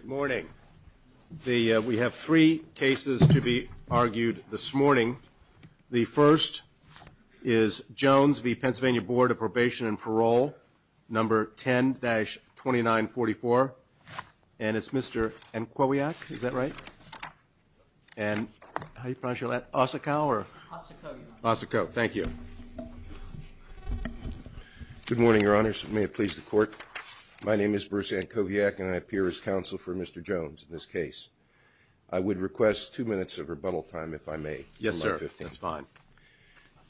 Good morning. We have three cases to be argued this morning. The first is Jones v. Pennsylvania Board of Probation and Parole, No. 10-2944. And it's Mr. Nkowiak, is that right? And how do you pronounce your last name? Ossikow? Ossikow, Your Honor. Ossikow, thank you. Good morning, Mr. Court. My name is Bruce Nkowiak, and I appear as counsel for Mr. Jones in this case. I would request two minutes of rebuttal time, if I may. Yes, sir. That's fine.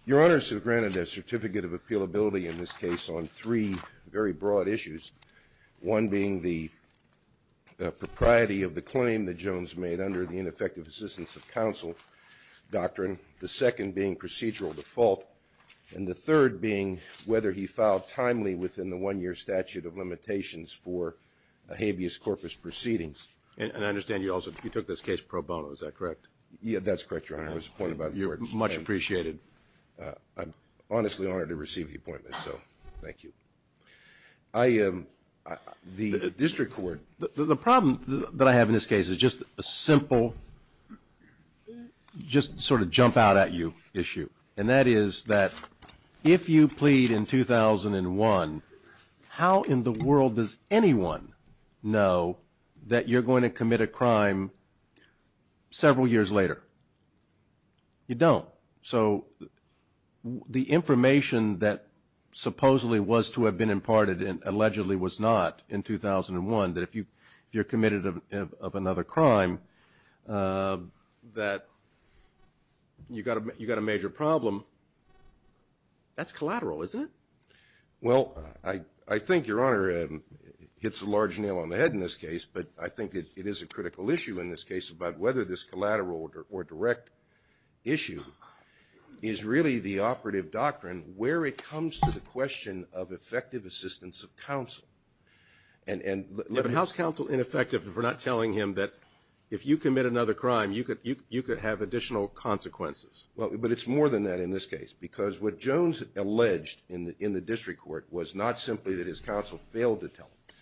Your Honors have granted a certificate of appealability in this case on three very broad issues, one being the propriety of the claim that Jones made under the ineffective assistance of counsel doctrine, the second being procedural default, and the third being whether he filed timely within the one-year statute of limitations for habeas corpus proceedings. And I understand you also took this case pro bono, is that correct? Yeah, that's correct, Your Honor. I was appointed by the court. You're much appreciated. I'm honestly honored to receive the appointment, so thank you. The district court. The problem that I have in this case is just a simple, just sort of jump out at you issue, and that is that if you commit a crime in 2001, how in the world does anyone know that you're going to commit a crime several years later? You don't. So the information that supposedly was to have been imparted and allegedly was not in 2001, that if you're committed of another crime that you got a major problem, that's collateral, isn't it? Well, I think, Your Honor, it hits a large nail on the head in this case, but I think that it is a critical issue in this case about whether this collateral or direct issue is really the operative doctrine where it comes to the question of effective assistance of counsel. But how's counsel ineffective if we're not telling him that if you commit another crime, you could have additional consequences? But it's more than that in this case, because what Jones alleged in the district court was not simply that his counsel failed to tell him,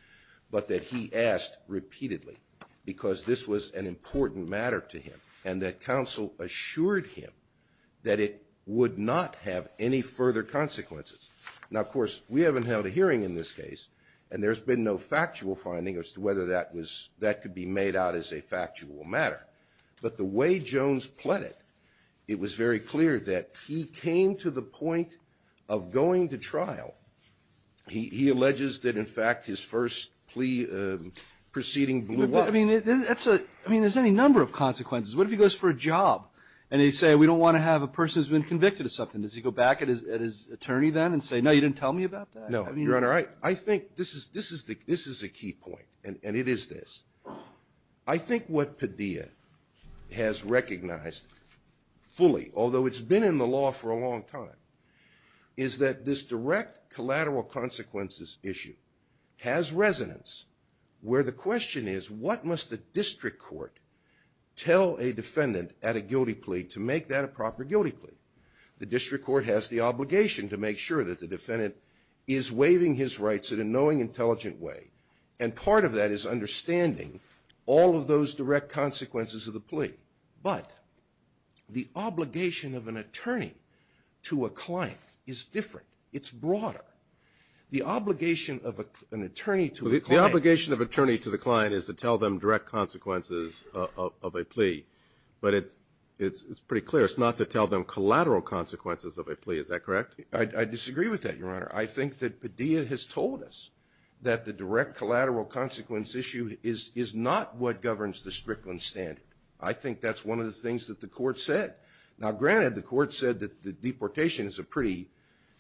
but that he asked repeatedly because this was an important matter to him, and that counsel assured him that it would not have any further consequences. Now, of course, we haven't held a hearing in this case, and there's been no factual finding as to whether that could be made out as a consequence, but it was very clear that he came to the point of going to trial. He alleges that, in fact, his first plea proceeding blew up. But, I mean, that's a, I mean, there's any number of consequences. What if he goes for a job, and they say, we don't want to have a person who's been convicted of something? Does he go back at his attorney then and say, no, you didn't tell me about that? No, Your Honor, I think this is a key point, and it is this. I think what Padilla has recognized fully, although it's been in the law for a long time, is that this direct collateral consequences issue has resonance where the question is, what must the district court tell a defendant at a guilty plea to make that a proper guilty plea? The district court has the obligation to make sure that the defendant is waiving his rights at a knowing, intelligent way, and part of that is understanding all of those direct consequences of the plea. But the obligation of an attorney to a client is different. It's broader. The obligation of an attorney to a client. The obligation of an attorney to the client is to tell them direct consequences of a plea, but it's pretty clear it's not to tell them collateral consequences of a plea. Is that correct? I disagree with that, Your Honor. I think that Padilla has told us that the direct collateral consequence issue is not what governs the Strickland standard. I think that's one of the things that the court said. Now, granted, the court said that the deportation is a pretty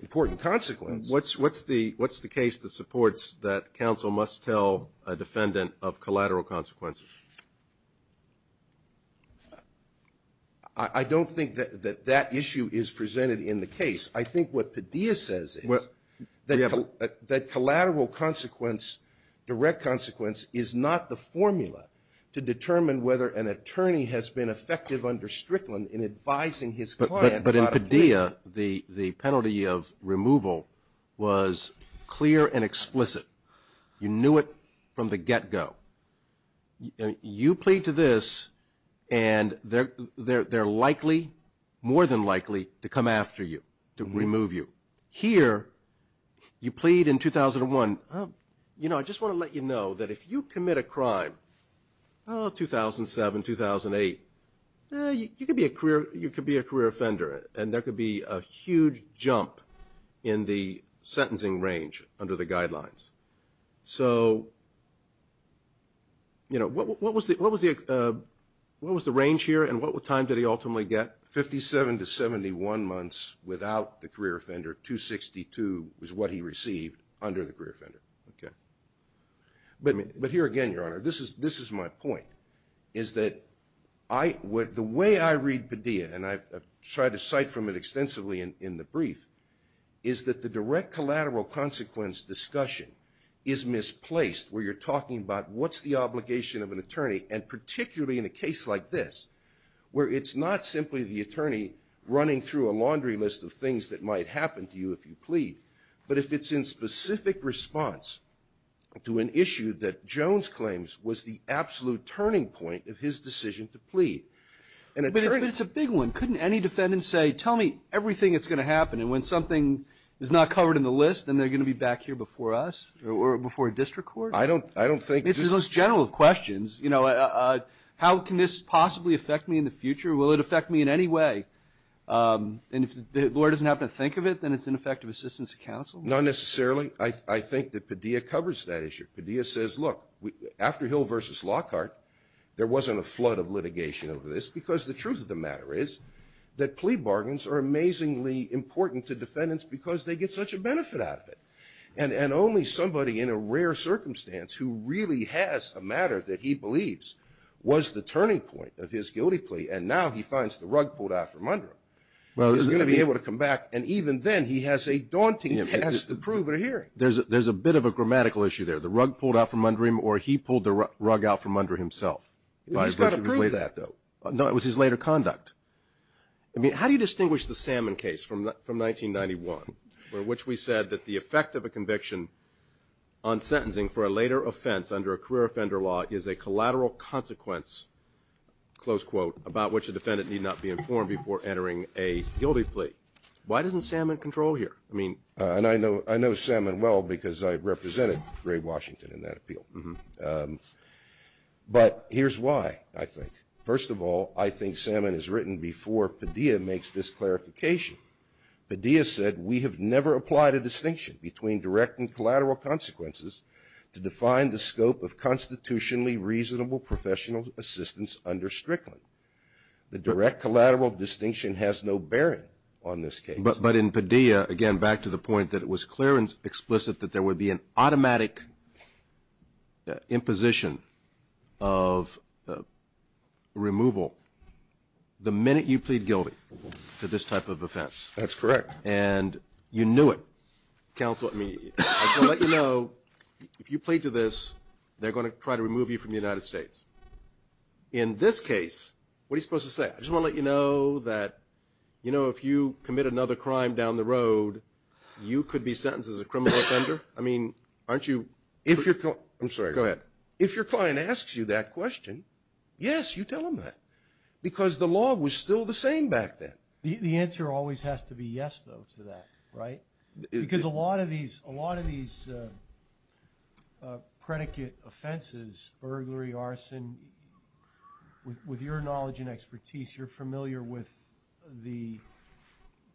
important consequence. What's the case that supports that counsel must tell a defendant of collateral consequences? I don't think that that issue is presented in the case. I think what Padilla says is that collateral consequence, direct consequence, is not the formula to determine whether an attorney has been effective under Strickland in advising his client about a plea. But in Padilla, the penalty of removal was clear and explicit. You knew it from the get go. You plead to this, and they're likely, more than likely, to come after you, to remove you. Here, you plead in 2001. You know, I just want to let you know that if you commit a crime, oh, 2007, 2008, you could be a career offender, and there could be a huge jump in the sentencing range under the guidelines. So, you know, what was the range here, and what time did he ultimately get? Fifty-seven to seventy-one months without the career offender. Two-sixty-two was what he received under the career offender. But here again, Your Honor, this is my point, is that the way I read Padilla, and I've tried to cite from it extensively in the brief, is that the direct collateral consequence discussion is misplaced, where you're talking about what's the obligation of an attorney, and particularly in a case like this, where it's not simply the attorney running through a laundry list of things that might happen to you if you plead, but if it's in specific response to an issue that Jones claims was the absolute turning point of his decision to plead. An attorney can't do that. But it's a big one. Couldn't any defendant say, tell me everything that's going to happen, and when something is not covered in the list, then they're going to be back here before us, or before a district court? I don't, I don't think... It's the most general of questions. You know, how can this possibly affect me in the future? Will it affect me in any way? And if the lawyer doesn't happen to think of it, then it's ineffective assistance to counsel? Not necessarily. I think that Padilla covers that issue. Padilla says, look, after Hill v. Lockhart, there wasn't a flood of litigation over this, because the truth of the matter is that plea bargains are amazingly important to defendants because they get such a benefit out of it. And only somebody in a rare circumstance who really has a matter that he believes was the turning point of his guilty plea, and now he finds the rug pulled out from under him, is going to be able to come back, and even then, he has a daunting task to prove at a hearing. There's a bit of a grammatical issue there. The rug pulled out from under him, or he pulled the rug out from under himself. He's got to prove that, though. No, it was his later conduct. I mean, how do you distinguish the Salmon case from 1991, where which we said that the effect of a conviction on sentencing for a later offense under a career offender law is a collateral consequence, close quote, about which a defendant need not be informed before entering a guilty plea? Why doesn't Salmon control here? I mean... And I know Salmon well, because I represented Ray Washington in that appeal. But here's why, I think. First of all, I think Salmon has written before Padilla makes this clarification. Padilla said, we have never applied a distinction between direct and collateral consequences to define the scope of constitutionally reasonable professional assistance under Strickland. The direct collateral distinction has no bearing on this case. But in Padilla, again, back to the point that it was clear and explicit that there would be an automatic imposition of removal the minute you plead guilty to this type of offense. That's correct. And you knew it. Counsel, I mean, I just want to let you know, if you plead to this, they're going to try to remove you from the United States. In this case, what are you supposed to say? I just want to let you know that, you know, if you commit another crime down the road, you could be sentenced as a criminal offender. I mean, aren't you... If your... I'm sorry, go ahead. If your client asks you that question, yes, you tell them that. Because the law was still the same back then. The answer always has to be yes, though, to that, right? Because a lot of these predicate offenses, burglary, arson, with your knowledge and expertise, you're familiar with the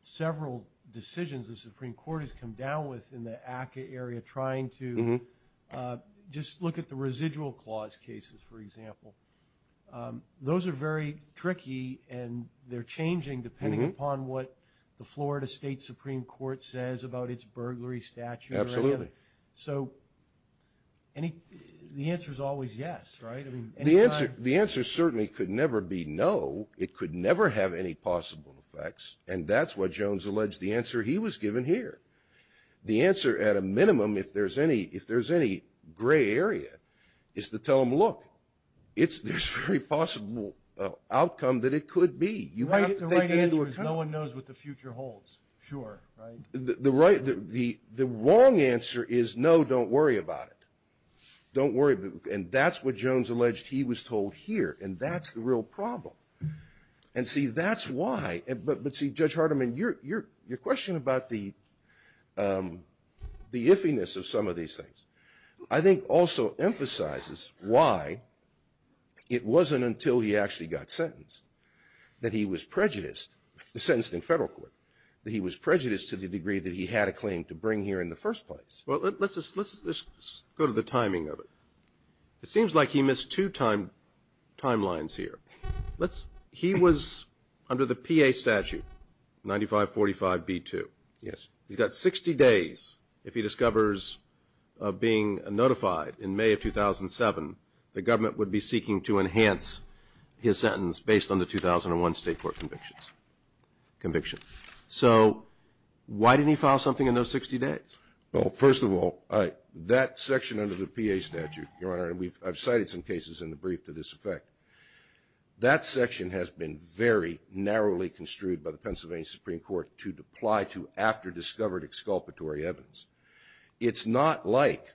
several decisions the Supreme Court has come down with in the ACCA area, trying to just look at the residual clause cases, for example. Those are very tricky, and they're changing depending upon what the Florida State Supreme Court says about its burglary statute or whatever. So the answer is always yes, right? The answer certainly could never be no. It could never have any possible effects. And that's what Jones alleged the answer he was given here. The answer, at a minimum, if there's any gray area, is to tell them, look, there's very possible outcome that it could be. You have to take them into account. The right answer is no one knows what the future holds, sure, right? The wrong answer is no, don't worry about it. Don't worry. And that's what Jones alleged he was told here, and that's the real problem. And see, that's why, but see, Judge Hardiman, your question about the iffiness of some of these things, I think also emphasizes why it wasn't until he actually got sentenced that he was prejudiced, sentenced in federal court, that he was prejudiced to the degree that he had a claim to bring here in the first place. Well, let's just go to the timing of it. It seems like he missed two timelines here. He was under the PA statute, 9545B2. Yes. He's got 60 days, if he discovers of being notified in May of 2007, the government would be seeking to enhance his sentence based on the 2001 state court conviction. So why didn't he file something in those 60 days? Well, first of all, that section under the PA statute, Your Honor, and I've cited some cases in the brief to this effect, that section has been very narrowly construed by the Pennsylvania Supreme Court to apply to after-discovered exculpatory evidence. It's not like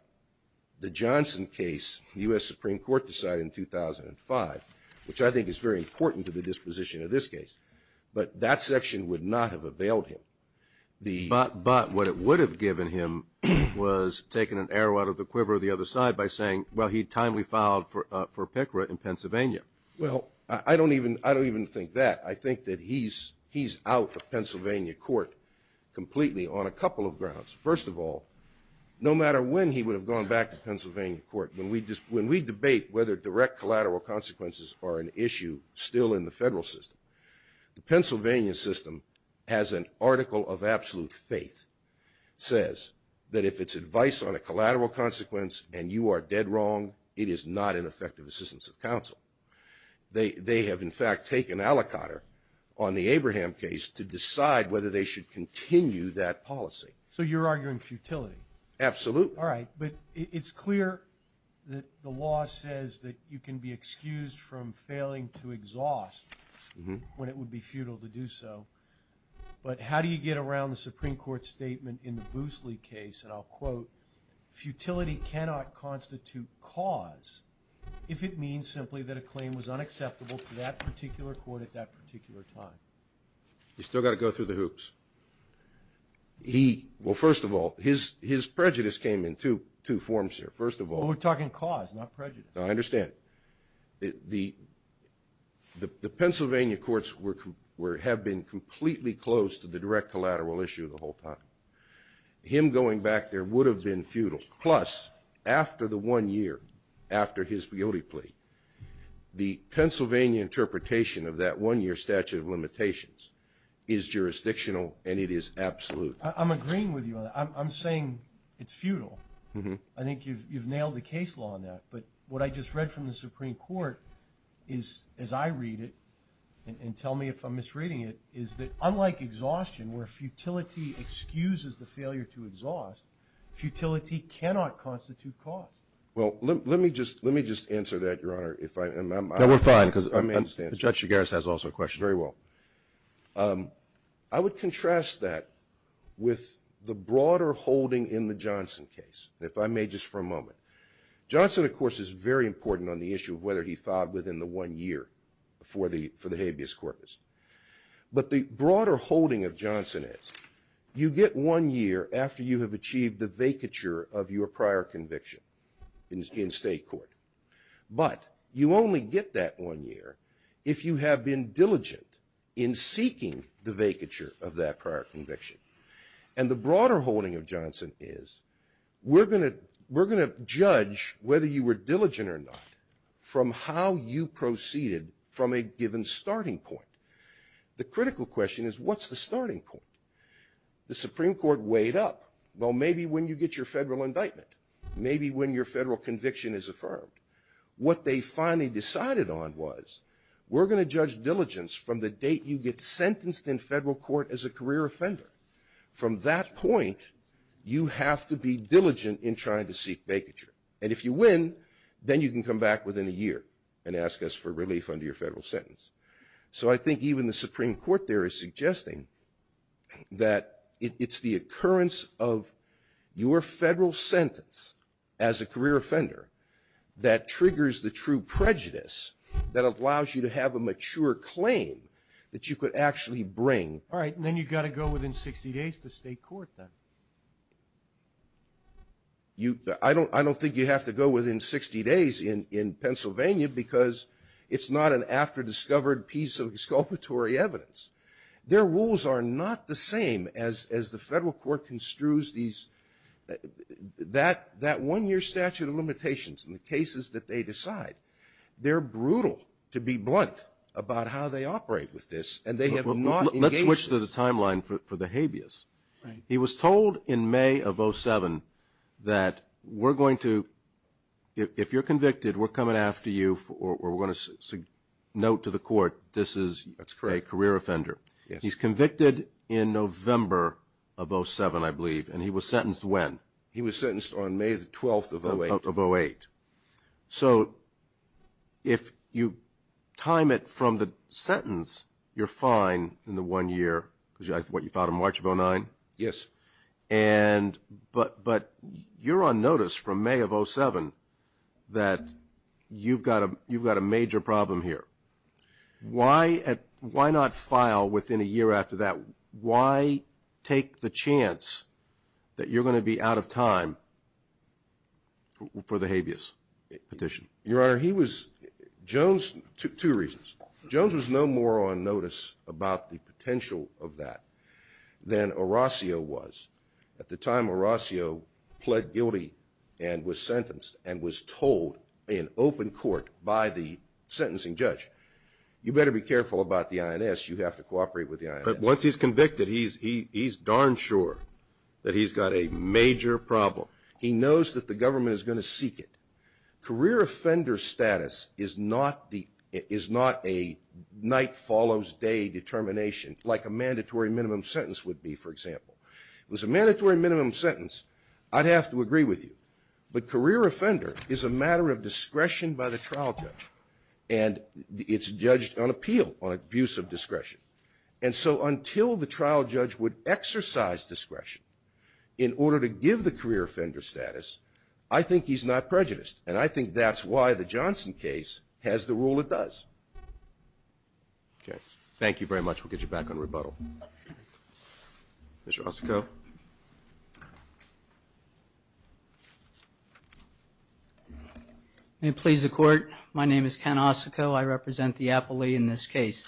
the Johnson case the U.S. Supreme Court decided in 2005, which I think is very important to the disposition of this case, but that section would not have availed him. But what it would have given him was taking an arrow out of the quiver of the other side by saying, well, he timely filed for PICRA in Pennsylvania. Well, I don't even think that. I think that he's out of Pennsylvania court completely on a couple of grounds. First of all, no matter when he would have gone back to Pennsylvania court, when we debate whether direct collateral consequences are an issue still in the federal system. The Pennsylvania system has an article of absolute faith. It says that if it's advice on a collateral consequence and you are dead wrong, it is not an effective assistance of counsel. They have, in fact, taken aliquotter on the Abraham case to decide whether they should continue that policy. So you're arguing futility? Absolutely. All right. But it's clear that the law says that you can be excused from failing to exhaust when it would be futile to do so. But how do you get around the Supreme Court statement in the Boosley case? And I'll quote, futility cannot constitute cause if it means simply that a claim was unacceptable to that particular court at that particular time. You still got to go through the hoops. He, well, first of all, his prejudice came in two forms here. First of all... Well, we're talking cause, not prejudice. I understand. The Pennsylvania courts have been completely close to the direct collateral issue the whole time. Him going back there would have been futile. Plus, after the one year after his guilty plea, the Pennsylvania interpretation of that one year statute of limitations is jurisdictional and it is absolute. I'm agreeing with you on that. I'm saying it's futile. I think you've nailed the case law on that. But what I just read from the Supreme Court is, as I read it, and tell me if I'm misreading it, is that unlike exhaustion, where futility excuses the failure to exhaust, futility cannot constitute cause. Well, let me just answer that, Your Honor, if I'm... No, we're fine, cause Judge Chigares has also a question. Very well. I would contrast that with the broader holding in the Johnson case. If I may, just for a moment. Johnson, of course, is very important on the issue of whether he filed within the one year for the habeas corpus. But the broader holding of Johnson is, you get one year after you have achieved the vacature of your prior conviction in state court. But you only get that one year if you have been diligent in seeking the vacature of that prior conviction. And the broader holding of Johnson is, we're going to judge whether you were diligent or not from how you proceeded from a given starting point. The critical question is, what's the starting point? The Supreme Court weighed up. Well, maybe when you get your federal indictment. Maybe when your federal conviction is affirmed. What they finally decided on was, we're going to judge diligence from the date you get sentenced in federal court as a career offender. From that point, you have to be diligent in trying to seek vacature. And if you win, then you can come back within a year and ask us for relief under your federal sentence. So I think even the Supreme Court there is suggesting that it's the occurrence of your federal sentence as a career offender that triggers the true bring. All right. And then you've got to go within 60 days to state court then? I don't think you have to go within 60 days in Pennsylvania because it's not an after-discovered piece of exculpatory evidence. Their rules are not the same as the federal court construes these – that one-year statute of limitations in the cases that they decide. They're brutal to be blunt about how they operate with this, and they have not engaged this. Let's switch to the timeline for the habeas. He was told in May of 07 that we're going to – if you're convicted, we're coming after you or we're going to note to the court this is a career offender. He's convicted in November of 07, I believe, and he was sentenced when? He was sentenced on May 12th of 08. Of 08. So if you time it from the sentence, you're fine in the one year because that's what you filed in March of 09? Yes. But you're on notice from May of 07 that you've got a major problem here. Why not file within a year after that? Why take the chance that you're going to be out of time for the habeas petition? Your Honor, he was – Jones – two reasons. Jones was no more on notice about the potential of that than Orasio was. At the time, Orasio pled guilty and was sentenced and was told in open court by the sentencing judge. You better be careful about the INS. You have to cooperate with the INS. But once he's convicted, he's darn sure that he's got a major problem. He knows that the government is going to seek it. Career offender status is not a night follows day determination like a mandatory minimum sentence would be, for example. If it was a mandatory minimum sentence, I'd have to agree with you. But career offender is a matter of discretion by the trial judge and it's judged on appeal, on abuse of discretion. And so until the trial judge would exercise discretion in order to give the career offender status, I think he's not prejudiced. And I think that's why the Johnson case has the rule it does. Thank you very much. We'll get you back on rebuttal. Mr. Ossoco. May it please the Court. My name is Ken Ossoco. I represent the appellee in this case.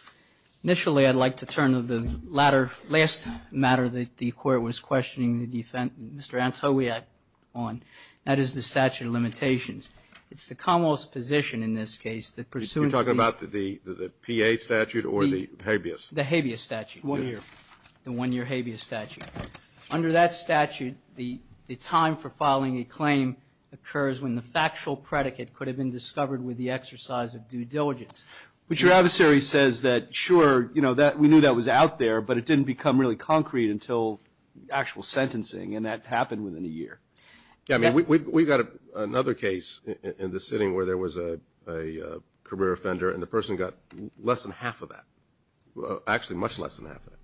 Initially, I'd like to turn to the latter, last matter that the Court was questioning the defendant, Mr. Antowiak, on. That is the statute of limitations. It's the Commonwealth's position in this case that pursuant to the You're talking about the P.A. statute or the habeas? The habeas statute. One year. The one-year habeas statute. Under that statute, the time for filing a claim occurs when the factual predicate could have been discovered with the exercise of due diligence. But your adversary says that, sure, we knew that was out there, but it didn't become really concrete until actual sentencing, and that happened within a year. Yeah, I mean, we've got another case in this sitting where there was a career offender, and the person got less than half of that. Actually, much less than half of that.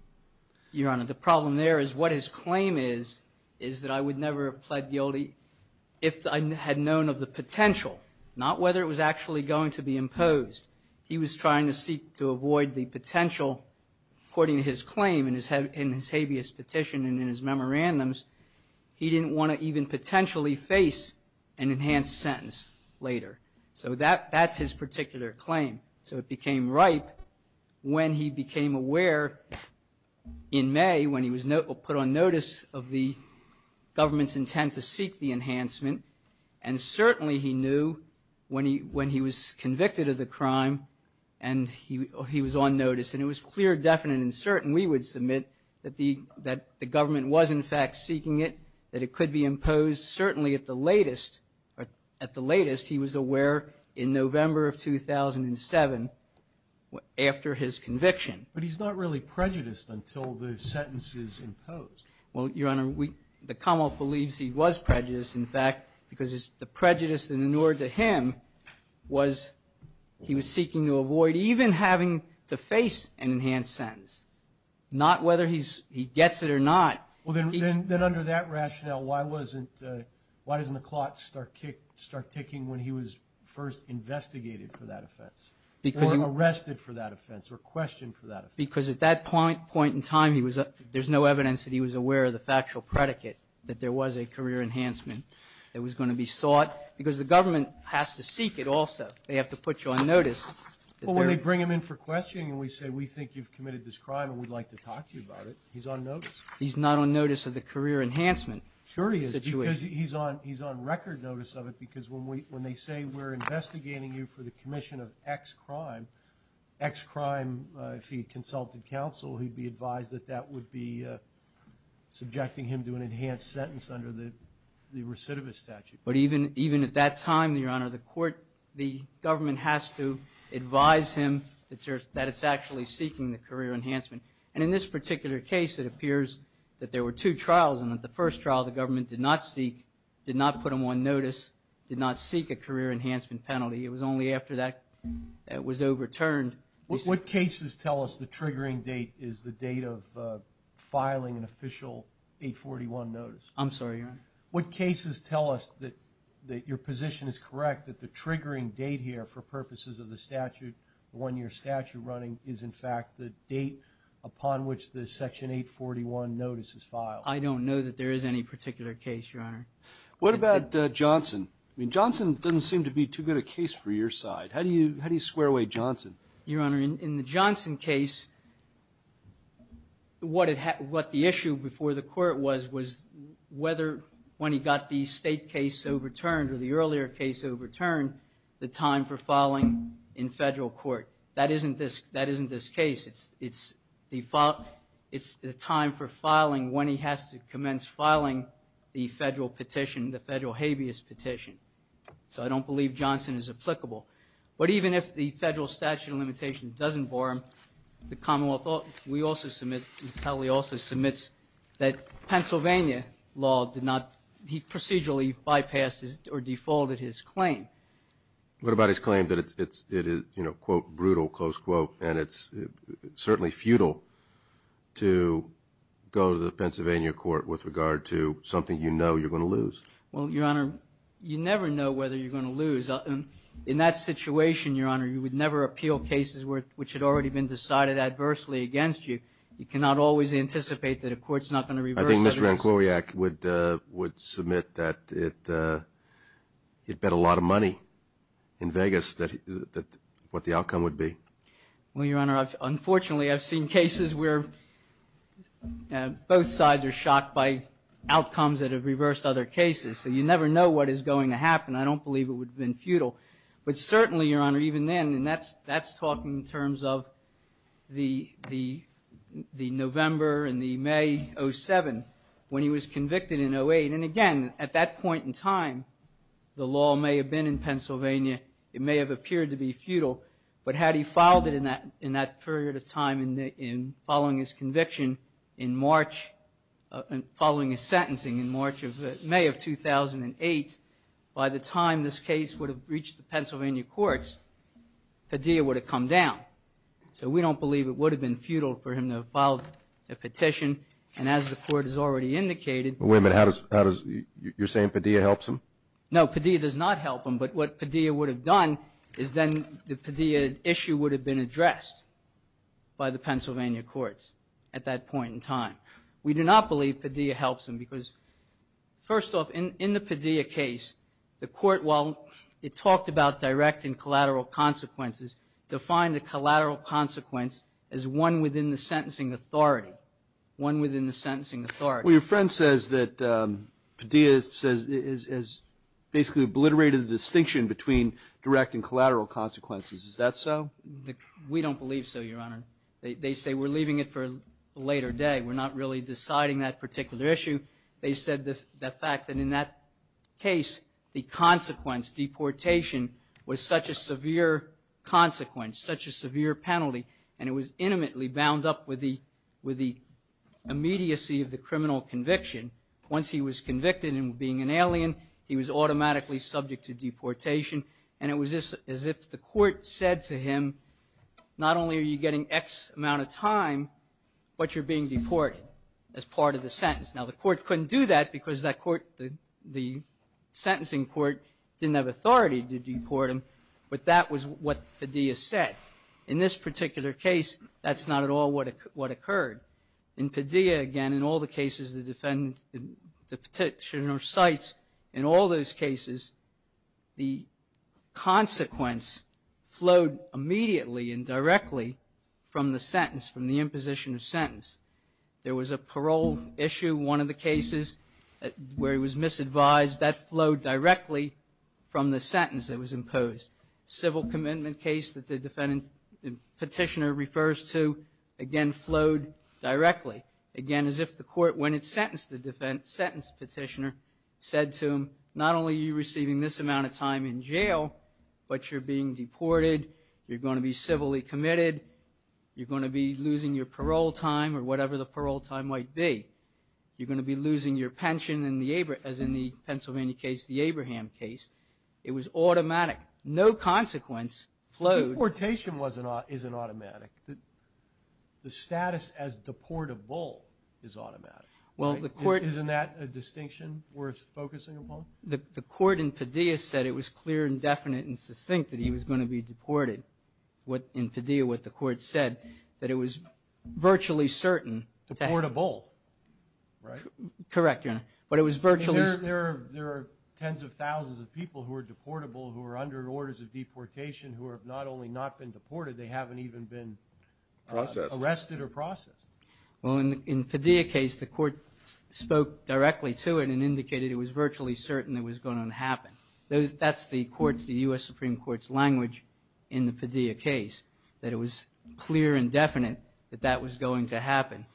Your Honor, the problem there is what his claim is, is that I would never have pled guilty if I had known of the potential, not whether it was actually going to be imposed. He was trying to seek to avoid the potential, according to his claim in his habeas petition and in his memorandums, he didn't want to even potentially face an enhanced sentence later. So that's his particular claim. So it became ripe when he became aware in May when he was put on notice of the government's intent to seek the enhancement, and certainly he knew when he was convicted of the crime and he was on notice. And it was clear, definite, and certain, we would submit, that the government was, in fact, seeking it, that it could be imposed, certainly at the latest he was aware in November of 2007 after his conviction. But he's not really prejudiced until the sentence is imposed. Well, Your Honor, the Commonwealth believes he was prejudiced, in fact, because the prejudice that inured to him was he was seeking to avoid even having to face an enhanced sentence, not whether he gets it or not. Then under that rationale, why doesn't the clock start ticking when he was first investigated for that offense, or arrested for that offense? Because at that point in time, there's no evidence that he was aware of the factual predicate that there was a career enhancement that was going to be sought, because the government has to seek it also. They have to put you on notice. Well, when they bring him in for questioning and we say, we think you've committed this crime and we'd like to talk to you about it, he's on notice. He's not on notice of the career enhancement situation. Sure he is, because he's on record notice of it, because when they say, we're investigating you for the consulted counsel, he'd be advised that that would be subjecting him to an enhanced sentence under the recidivist statute. But even at that time, Your Honor, the court, the government has to advise him that it's actually seeking the career enhancement. And in this particular case, it appears that there were two trials, and at the first trial, the government did not seek, did not put him on notice, did not seek a career enhancement penalty. It was only after that it was overturned. What cases tell us the triggering date is the date of filing an official 841 notice? I'm sorry, Your Honor? What cases tell us that your position is correct, that the triggering date here, for purposes of the statute, the one-year statute running, is in fact the date upon which the Section 841 notice is filed? I don't know that there is any particular case, Your Honor. What about Johnson? I mean, Johnson doesn't seem to be too good a case for your side. How do you square away Johnson? Your Honor, in the Johnson case, what the issue before the court was, was whether when he got the state case overturned or the earlier case overturned, the time for filing in Federal court. That isn't this case. It's the time for filing when he has to commence filing the Federal petition, the Federal habeas petition. So I don't believe Johnson is applicable. But even if the Federal statute of limitation doesn't bore him, the Commonwealth also submits that Pennsylvania law did not procedurally bypass or defaulted his claim. What about his claim that it is, you know, quote, brutal, close quote, and it's certainly futile to go to the Pennsylvania court with regard to something you know you're going to lose? Well, Your Honor, you never know whether you're going to lose. In that situation, Your Honor, you would never appeal cases which had already been decided adversely against you. You cannot always anticipate that a court's not going to reverse it. I think Mr. Rankowiak would submit that he'd bet a lot of money in Vegas what the outcome would be. Well, Your Honor, unfortunately, I've seen cases where both sides are shocked by outcomes that have reversed other cases. So you never know what is going to happen. I don't believe it would have been futile. But certainly, Your Honor, even then, and that's talking in terms of the November and the May 07, when he was convicted in 08, and again, at that point in time, the law may have been in Pennsylvania. It may have appeared to be futile. But had he filed it in that period of time in following his conviction in March, following his sentencing in May of 2008, by the time this case would have reached the Pennsylvania courts, Padilla would have come down. So we don't believe it would have been futile for him to have filed a petition. And as the Court has already indicated – Wait a minute. You're saying Padilla helps him? No, Padilla does not help him. But what Padilla would have done is then the Padilla issue would have been addressed by the Pennsylvania courts at that point in time. We do not believe Padilla helps him because, first off, in the Padilla case, the Court, while it talked about direct and collateral consequences, defined a collateral consequence as one within the sentencing authority, one within the sentencing authority. Well, your friend says that Padilla has basically obliterated the distinction between direct and collateral consequences. Is that so? We don't believe so, Your Honor. They say we're leaving it for a later day. We're not really deciding that particular issue. They said the fact that in that case, the consequence, deportation, was such a severe consequence, such a severe penalty, and it was intimately bound up with the immediacy of the criminal conviction. Once he was convicted of being an alien, he was automatically subject to deportation. And it was as if the Court said to him, not only are you getting X amount of time, but you're being deported as part of the sentence. Now, the Court couldn't do that because the sentencing court didn't have authority to deport him. But that was what Padilla said. In this particular case, that's not at all what occurred. In Padilla, again, in all the cases the defendant, the petitioner cites, in all those cases, the consequence flowed immediately and directly from the sentence, from the imposition of sentence. There was a parole issue, one of the cases, where he was misadvised. That flowed directly from the sentence that was imposed. Civil commitment case that the petitioner refers to, again, flowed directly. Again, as if the Court, when it sentenced the petitioner, said to him, not only are you receiving this amount of time in jail, but you're being deported. You're going to be civilly committed. You're going to be losing your parole time or whatever the parole time might be. You're going to be losing your pension, as in the Pennsylvania case, the Abraham case. It was automatic. No consequence flowed. Deportation isn't automatic. The status as deportable is automatic. Isn't that a distinction worth focusing upon? The Court in Padilla said it was clear and definite and succinct that he was going to be deported. In Padilla, what the Court said, that it was virtually certain. Deportable, right? Correct, Your Honor, but it was virtually certain. There are tens of thousands of people who are deportable, who are under orders of deportation who have not only not been deported, they haven't even been arrested or processed. Well, in the Padilla case, the Court spoke directly to it and indicated it was virtually certain it was going to happen. That's the Court's, the U.S. Supreme Court's language in the Padilla case, that it was clear and definite that that was going to happen.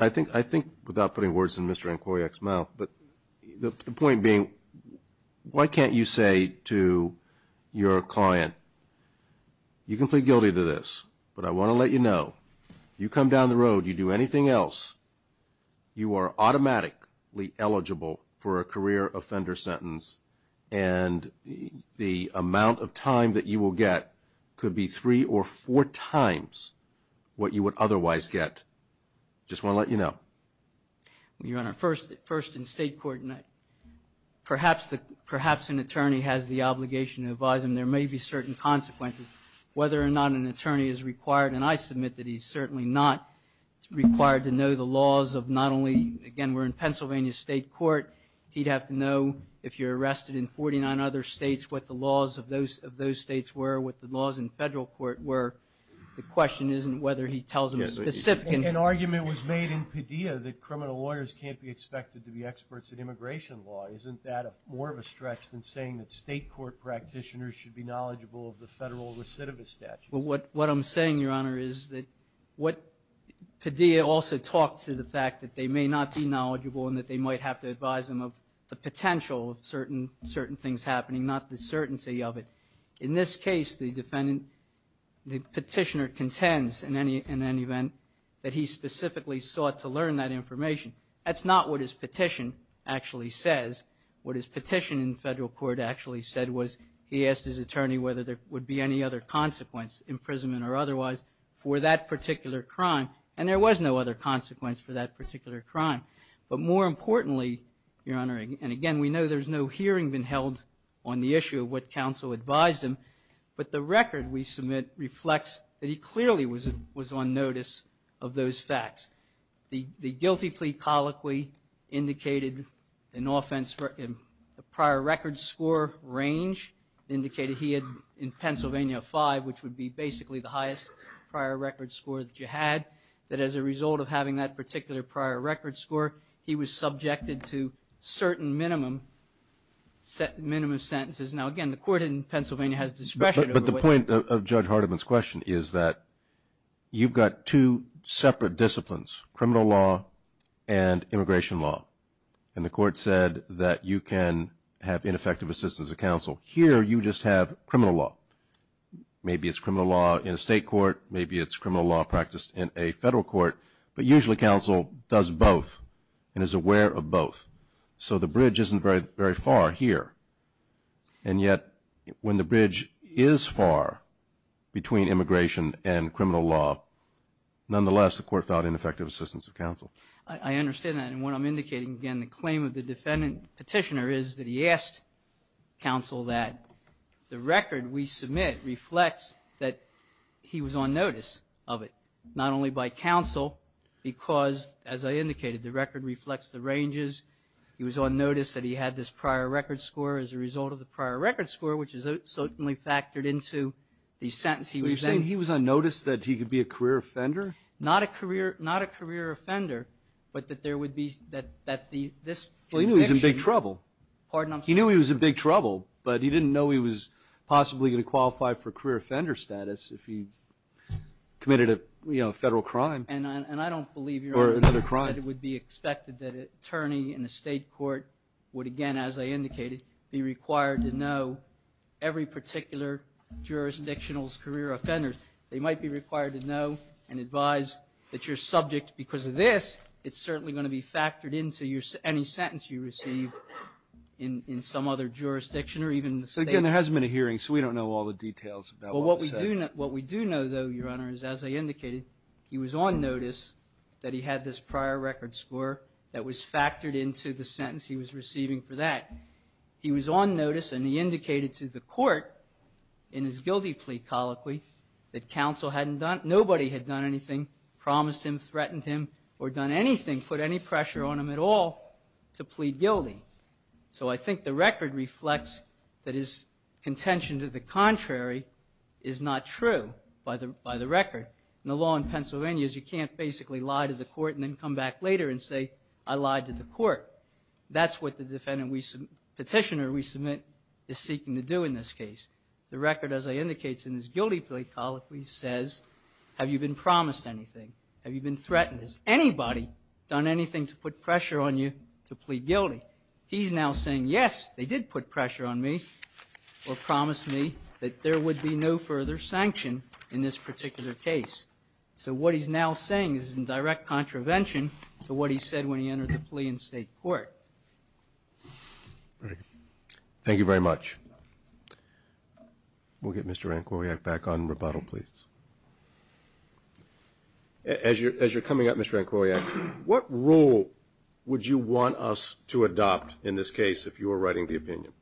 I think, without putting words in Mr. Inquiry's mouth, but the point being, why can't you say to your client, you can plead guilty to this, but I want to let you know, you come down the road, you do anything else, you are automatically eligible for a career offender sentence and the amount of time that you will get could be three or four times what you would otherwise get. I just want to let you know. Well, Your Honor, first in state court, perhaps an attorney has the obligation to advise him. There may be certain consequences. Whether or not an attorney is required, and I submit that he's certainly not required to know the laws of not only, again, we're in Pennsylvania State Court, he'd have to know if you're arrested in 49 other states, what the laws of those states were, what the laws in federal court were. The question isn't whether he tells a specific. An argument was made in Padilla that criminal lawyers can't be expected to be experts in immigration law. Isn't that more of a stretch than saying that state court practitioners should be knowledgeable of the federal recidivist statute? Well, what I'm saying, Your Honor, is that what Padilla also talked to the fact that they may not be knowledgeable and that they might have to advise him of the potential of certain things happening, not the certainty of it. In this case, the petitioner contends, in any event, that he specifically sought to learn that information. That's not what his petition actually says. What his petition in federal court actually said was he asked his attorney whether there would be any other consequence, imprisonment or otherwise, for that particular crime. And there was no other consequence for that particular crime. But more importantly, Your Honor, and again, we know there's no hearing been held on the issue of what counsel advised him, but the record we submit reflects that he clearly was on notice of those facts. The guilty plea colloquy indicated an offense in prior record score range, indicated he had in Pennsylvania a five, which would be basically the highest prior record score that you had, that as a result of having that particular prior record score, he was subjected to certain minimum sentences. Now, again, the court in Pennsylvania has discretion. But the point of Judge Hardiman's question is that you've got two separate disciplines, criminal law and immigration law. And the court said that you can have ineffective assistance of counsel. Here you just have criminal law. Maybe it's criminal law in a state court. Maybe it's criminal law practiced in a federal court. But usually counsel does both and is aware of both. So the bridge isn't very far here. And yet when the bridge is far between immigration and criminal law, nonetheless the court found ineffective assistance of counsel. I understand that. And what I'm indicating, again, the claim of the defendant petitioner is that he asked counsel that the record we submit reflects that he was on notice of it, not only by counsel because, as I indicated, the record reflects the ranges. He was on notice that he had this prior record score as a result of the prior record score, which is certainly factored into the sentence he was in. But you're saying he was on notice that he could be a career offender? Not a career offender, but that there would be that this conviction. Well, he knew he was in big trouble. Pardon? He was probably going to qualify for career offender status if he committed a federal crime. And I don't believe your argument that it would be expected that an attorney in a state court would, again, as I indicated, be required to know every particular jurisdictional's career offenders. They might be required to know and advise that your subject, because of this, it's certainly going to be factored into any sentence you receive in some other jurisdiction or even the state. So, again, there hasn't been a hearing, so we don't know all the details about what was said. Well, what we do know, though, Your Honor, is, as I indicated, he was on notice that he had this prior record score that was factored into the sentence he was receiving for that. He was on notice, and he indicated to the court in his guilty plea colloquy that counsel hadn't done anything, nobody had done anything, promised him, threatened him, or done anything, put any pressure on him at all to plead guilty. So I think the record reflects that his contention to the contrary is not true by the record. And the law in Pennsylvania is you can't basically lie to the court and then come back later and say, I lied to the court. That's what the petitioner we submit is seeking to do in this case. The record, as I indicated in his guilty plea colloquy, says, have you been promised anything? Have you been threatened? Has anybody done anything to put pressure on you to plead guilty? He's now saying, yes, they did put pressure on me or promised me that there would be no further sanction in this particular case. So what he's now saying is in direct contravention to what he said when he entered the plea in State court. Thank you very much. As you're coming up, Mr. Nkoyiak, what rule would you want us to adopt in this case if you were writing the opinion?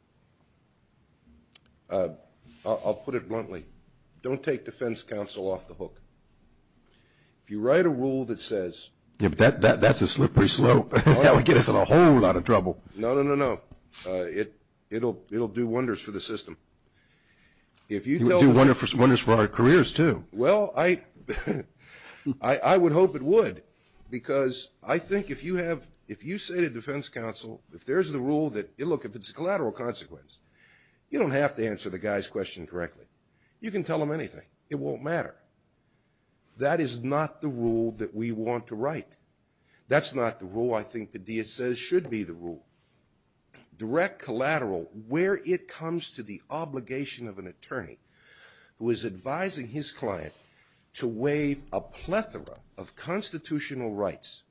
I'll put it bluntly. Don't take defense counsel off the hook. If you write a rule that says... Yeah, but that's a slippery slope. That would get us in a whole lot of trouble. No, no, no, no. It'll do wonders for the system. It would do wonders for our careers, too. Well, I would hope it would because I think if you say to defense counsel, if there's the rule that, look, if it's a collateral consequence, you don't have to answer the guy's question correctly. You can tell him anything. It won't matter. That is not the rule that we want to write. That's not the rule I think Padilla says should be the rule. Direct collateral, where it comes to the obligation of an attorney who is advising his client to waive a plethora of constitutional rights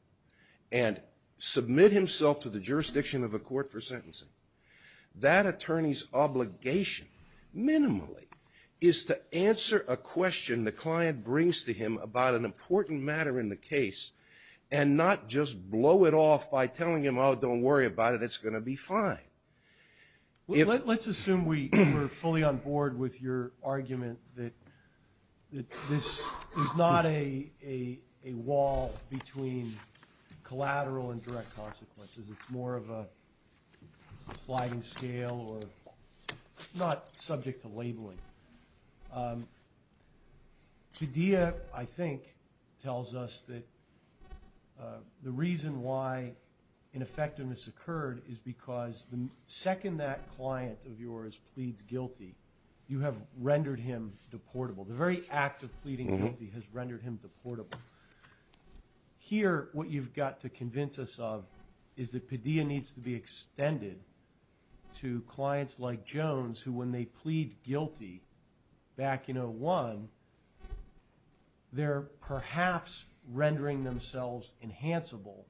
and submit himself to the jurisdiction of a court for sentencing, that attorney's obligation, minimally, is to answer a question the client brings to him about an important matter in the case and not just blow it off by telling him, oh, don't worry about it. It's going to be fine. Let's assume we're fully on board with your argument that this is not a wall between collateral and direct consequences. It's more of a sliding scale or not subject to labeling. Padilla, I think, tells us that the reason why ineffectiveness occurred is because the second that client of yours pleads guilty, you have rendered him deportable. The very act of pleading guilty has rendered him deportable. Here, what you've got to convince us of is that Padilla needs to be extended to back in 01, they're perhaps rendering themselves enhanceable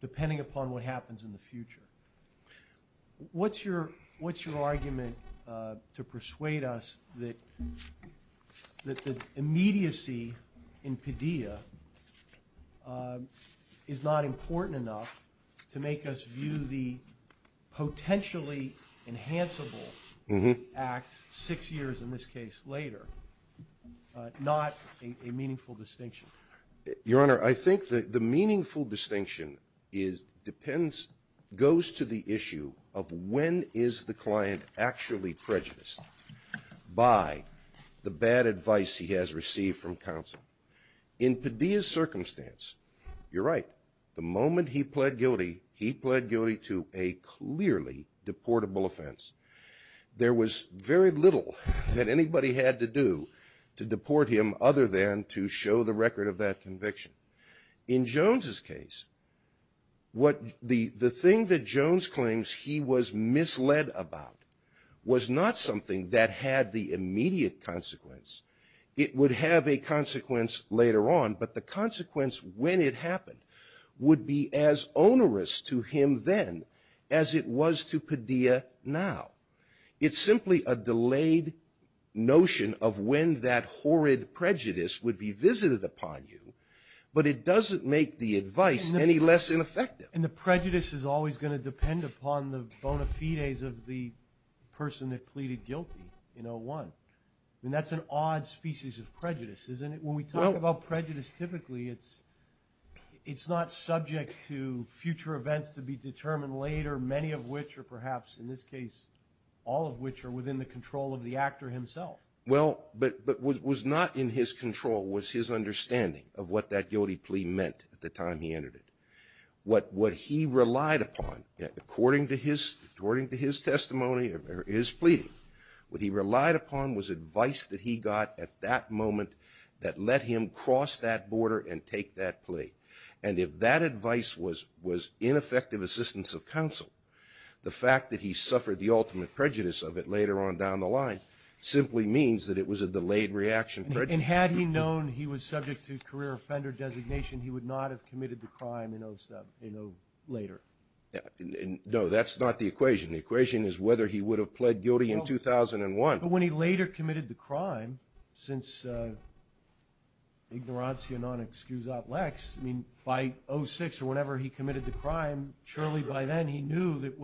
depending upon what happens in the future. What's your argument to persuade us that the immediacy in Padilla is not a meaningful distinction? Your Honor, I think the meaningful distinction depends, goes to the issue of when is the client actually prejudiced by the bad advice he has received from counsel. In Padilla's circumstance, you're right. The moment he pled guilty, he pled guilty to a clearly deportable offense. There was very little that anybody had to do to deport him other than to show the record of that conviction. In Jones' case, what the thing that Jones claims he was misled about was not something that had the immediate consequence. It would have a consequence later on, but the consequence when it happened would be as onerous to him then as it was to Padilla now. It's simply a delayed notion of when that horrid prejudice would be visited upon you, but it doesn't make the advice any less ineffective. And the prejudice is always going to depend upon the bona fides of the person that pleaded guilty in 01. I mean, that's an odd species of prejudice, isn't it? When we talk about prejudice, typically it's not subject to future events to be determined later, many of which are perhaps, in this case, all of which are within the control of the actor himself. Well, but what was not in his control was his understanding of what that guilty plea meant at the time he entered it. What he relied upon, according to his testimony or his pleading, what he relied upon was advice that he got at that moment that let him cross that border and take that plea. And if that advice was ineffective assistance of counsel, the fact that he suffered the ultimate prejudice of it later on down the line simply means that it was a delayed reaction prejudice. And had he known he was subject to career offender designation, he would not have committed the crime in 07, you know, later. No, that's not the equation. The equation is whether he would have pled guilty in 2001. But when he later committed the crime, since ignorancia non excusat lex, I mean, by 06 or whenever he committed the crime, surely by then he knew that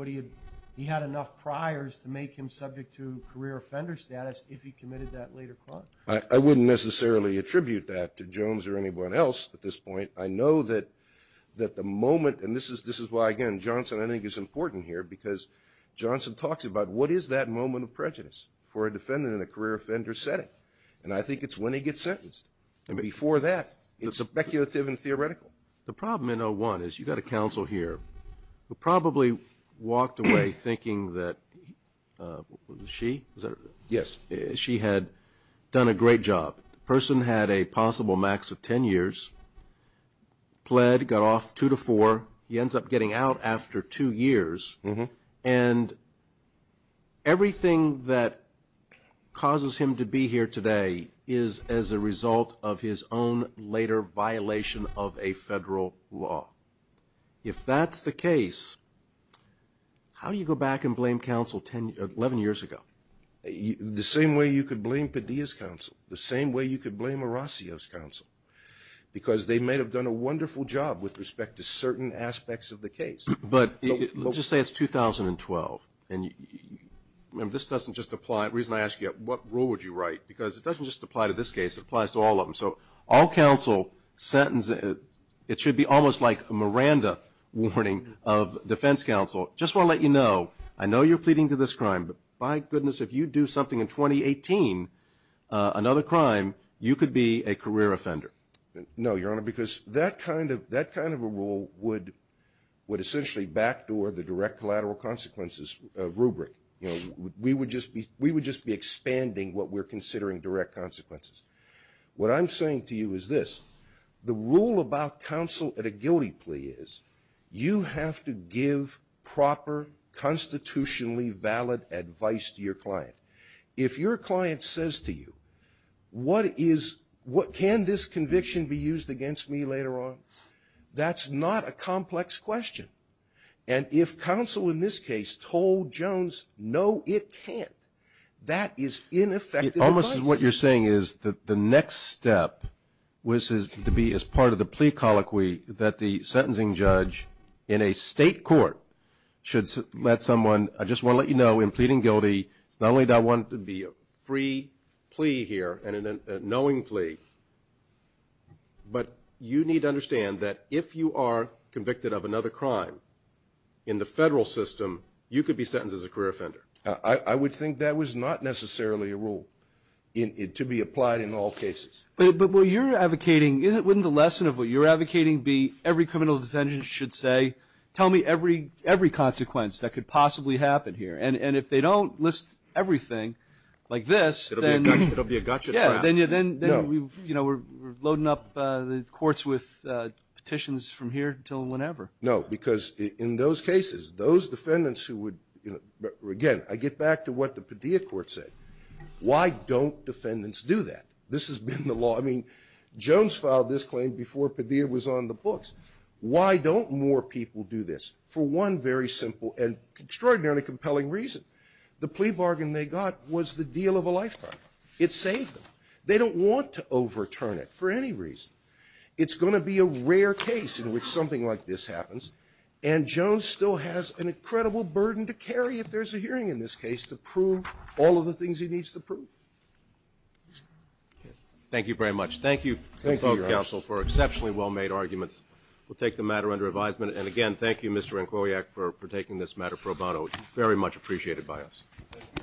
he had enough priors to make him subject to career offender status if he committed that later crime. I wouldn't necessarily attribute that to Jones or anyone else at this point. I know that the moment, and this is why, again, Johnson I think is important here because Johnson talks about what is that moment of prejudice for a defendant in a career offender setting. And I think it's when he gets sentenced. And before that, it's speculative and theoretical. The problem in 01 is you've got a counsel here who probably walked away thinking that she had done a great job. The person had a possible max of ten years, pled, got off two to four. He ends up getting out after two years. And everything that causes him to be here today is as a result of his own later violation of a federal law. If that's the case, how do you go back and blame counsel 11 years ago? The same way you could blame Padilla's counsel, the same way you could blame Because they may have done a wonderful job with respect to certain aspects of the case. But let's just say it's 2012, and this doesn't just apply. The reason I ask you, what rule would you write? Because it doesn't just apply to this case. It applies to all of them. So all counsel, it should be almost like a Miranda warning of defense counsel. Just want to let you know, I know you're pleading to this crime. But, my goodness, if you do something in 2018, another crime, you could be a career offender. No, Your Honor, because that kind of a rule would essentially backdoor the direct collateral consequences rubric. We would just be expanding what we're considering direct consequences. What I'm saying to you is this. The rule about counsel at a guilty plea is you have to give proper constitutionally valid advice to your client. If your client says to you, can this conviction be used against me later on? That's not a complex question. And if counsel in this case told Jones, no, it can't, that is ineffective advice. Almost what you're saying is that the next step was to be as part of the plea that the sentencing judge in a state court should let someone, I just want to let you know, in pleading guilty, not only do I want it to be a free plea here and a knowing plea, but you need to understand that if you are convicted of another crime in the federal system, you could be sentenced as a career offender. I would think that was not necessarily a rule to be applied in all cases. But what you're advocating, wouldn't the lesson of what you're advocating be every criminal defendant should say, tell me every consequence that could possibly happen here? And if they don't list everything like this, then we're loading up the courts with petitions from here until whenever. No, because in those cases, those defendants who would, again, I get back to what the Padilla court said. Why don't defendants do that? This has been the law. I mean, Jones filed this claim before Padilla was on the books. Why don't more people do this? For one very simple and extraordinarily compelling reason. The plea bargain they got was the deal of a lifetime. It saved them. They don't want to overturn it for any reason. It's going to be a rare case in which something like this happens, and Jones still has an incredible burden to carry if there's a hearing in this case to prove all of the things he needs to prove. Thank you very much. Thank you. Thank you, Your Honor. Thank you, counsel, for exceptionally well-made arguments. We'll take the matter under advisement. And again, thank you, Mr. Nkowiak, for taking this matter pro bono. Very much appreciated by us. Thank you, Your Honor.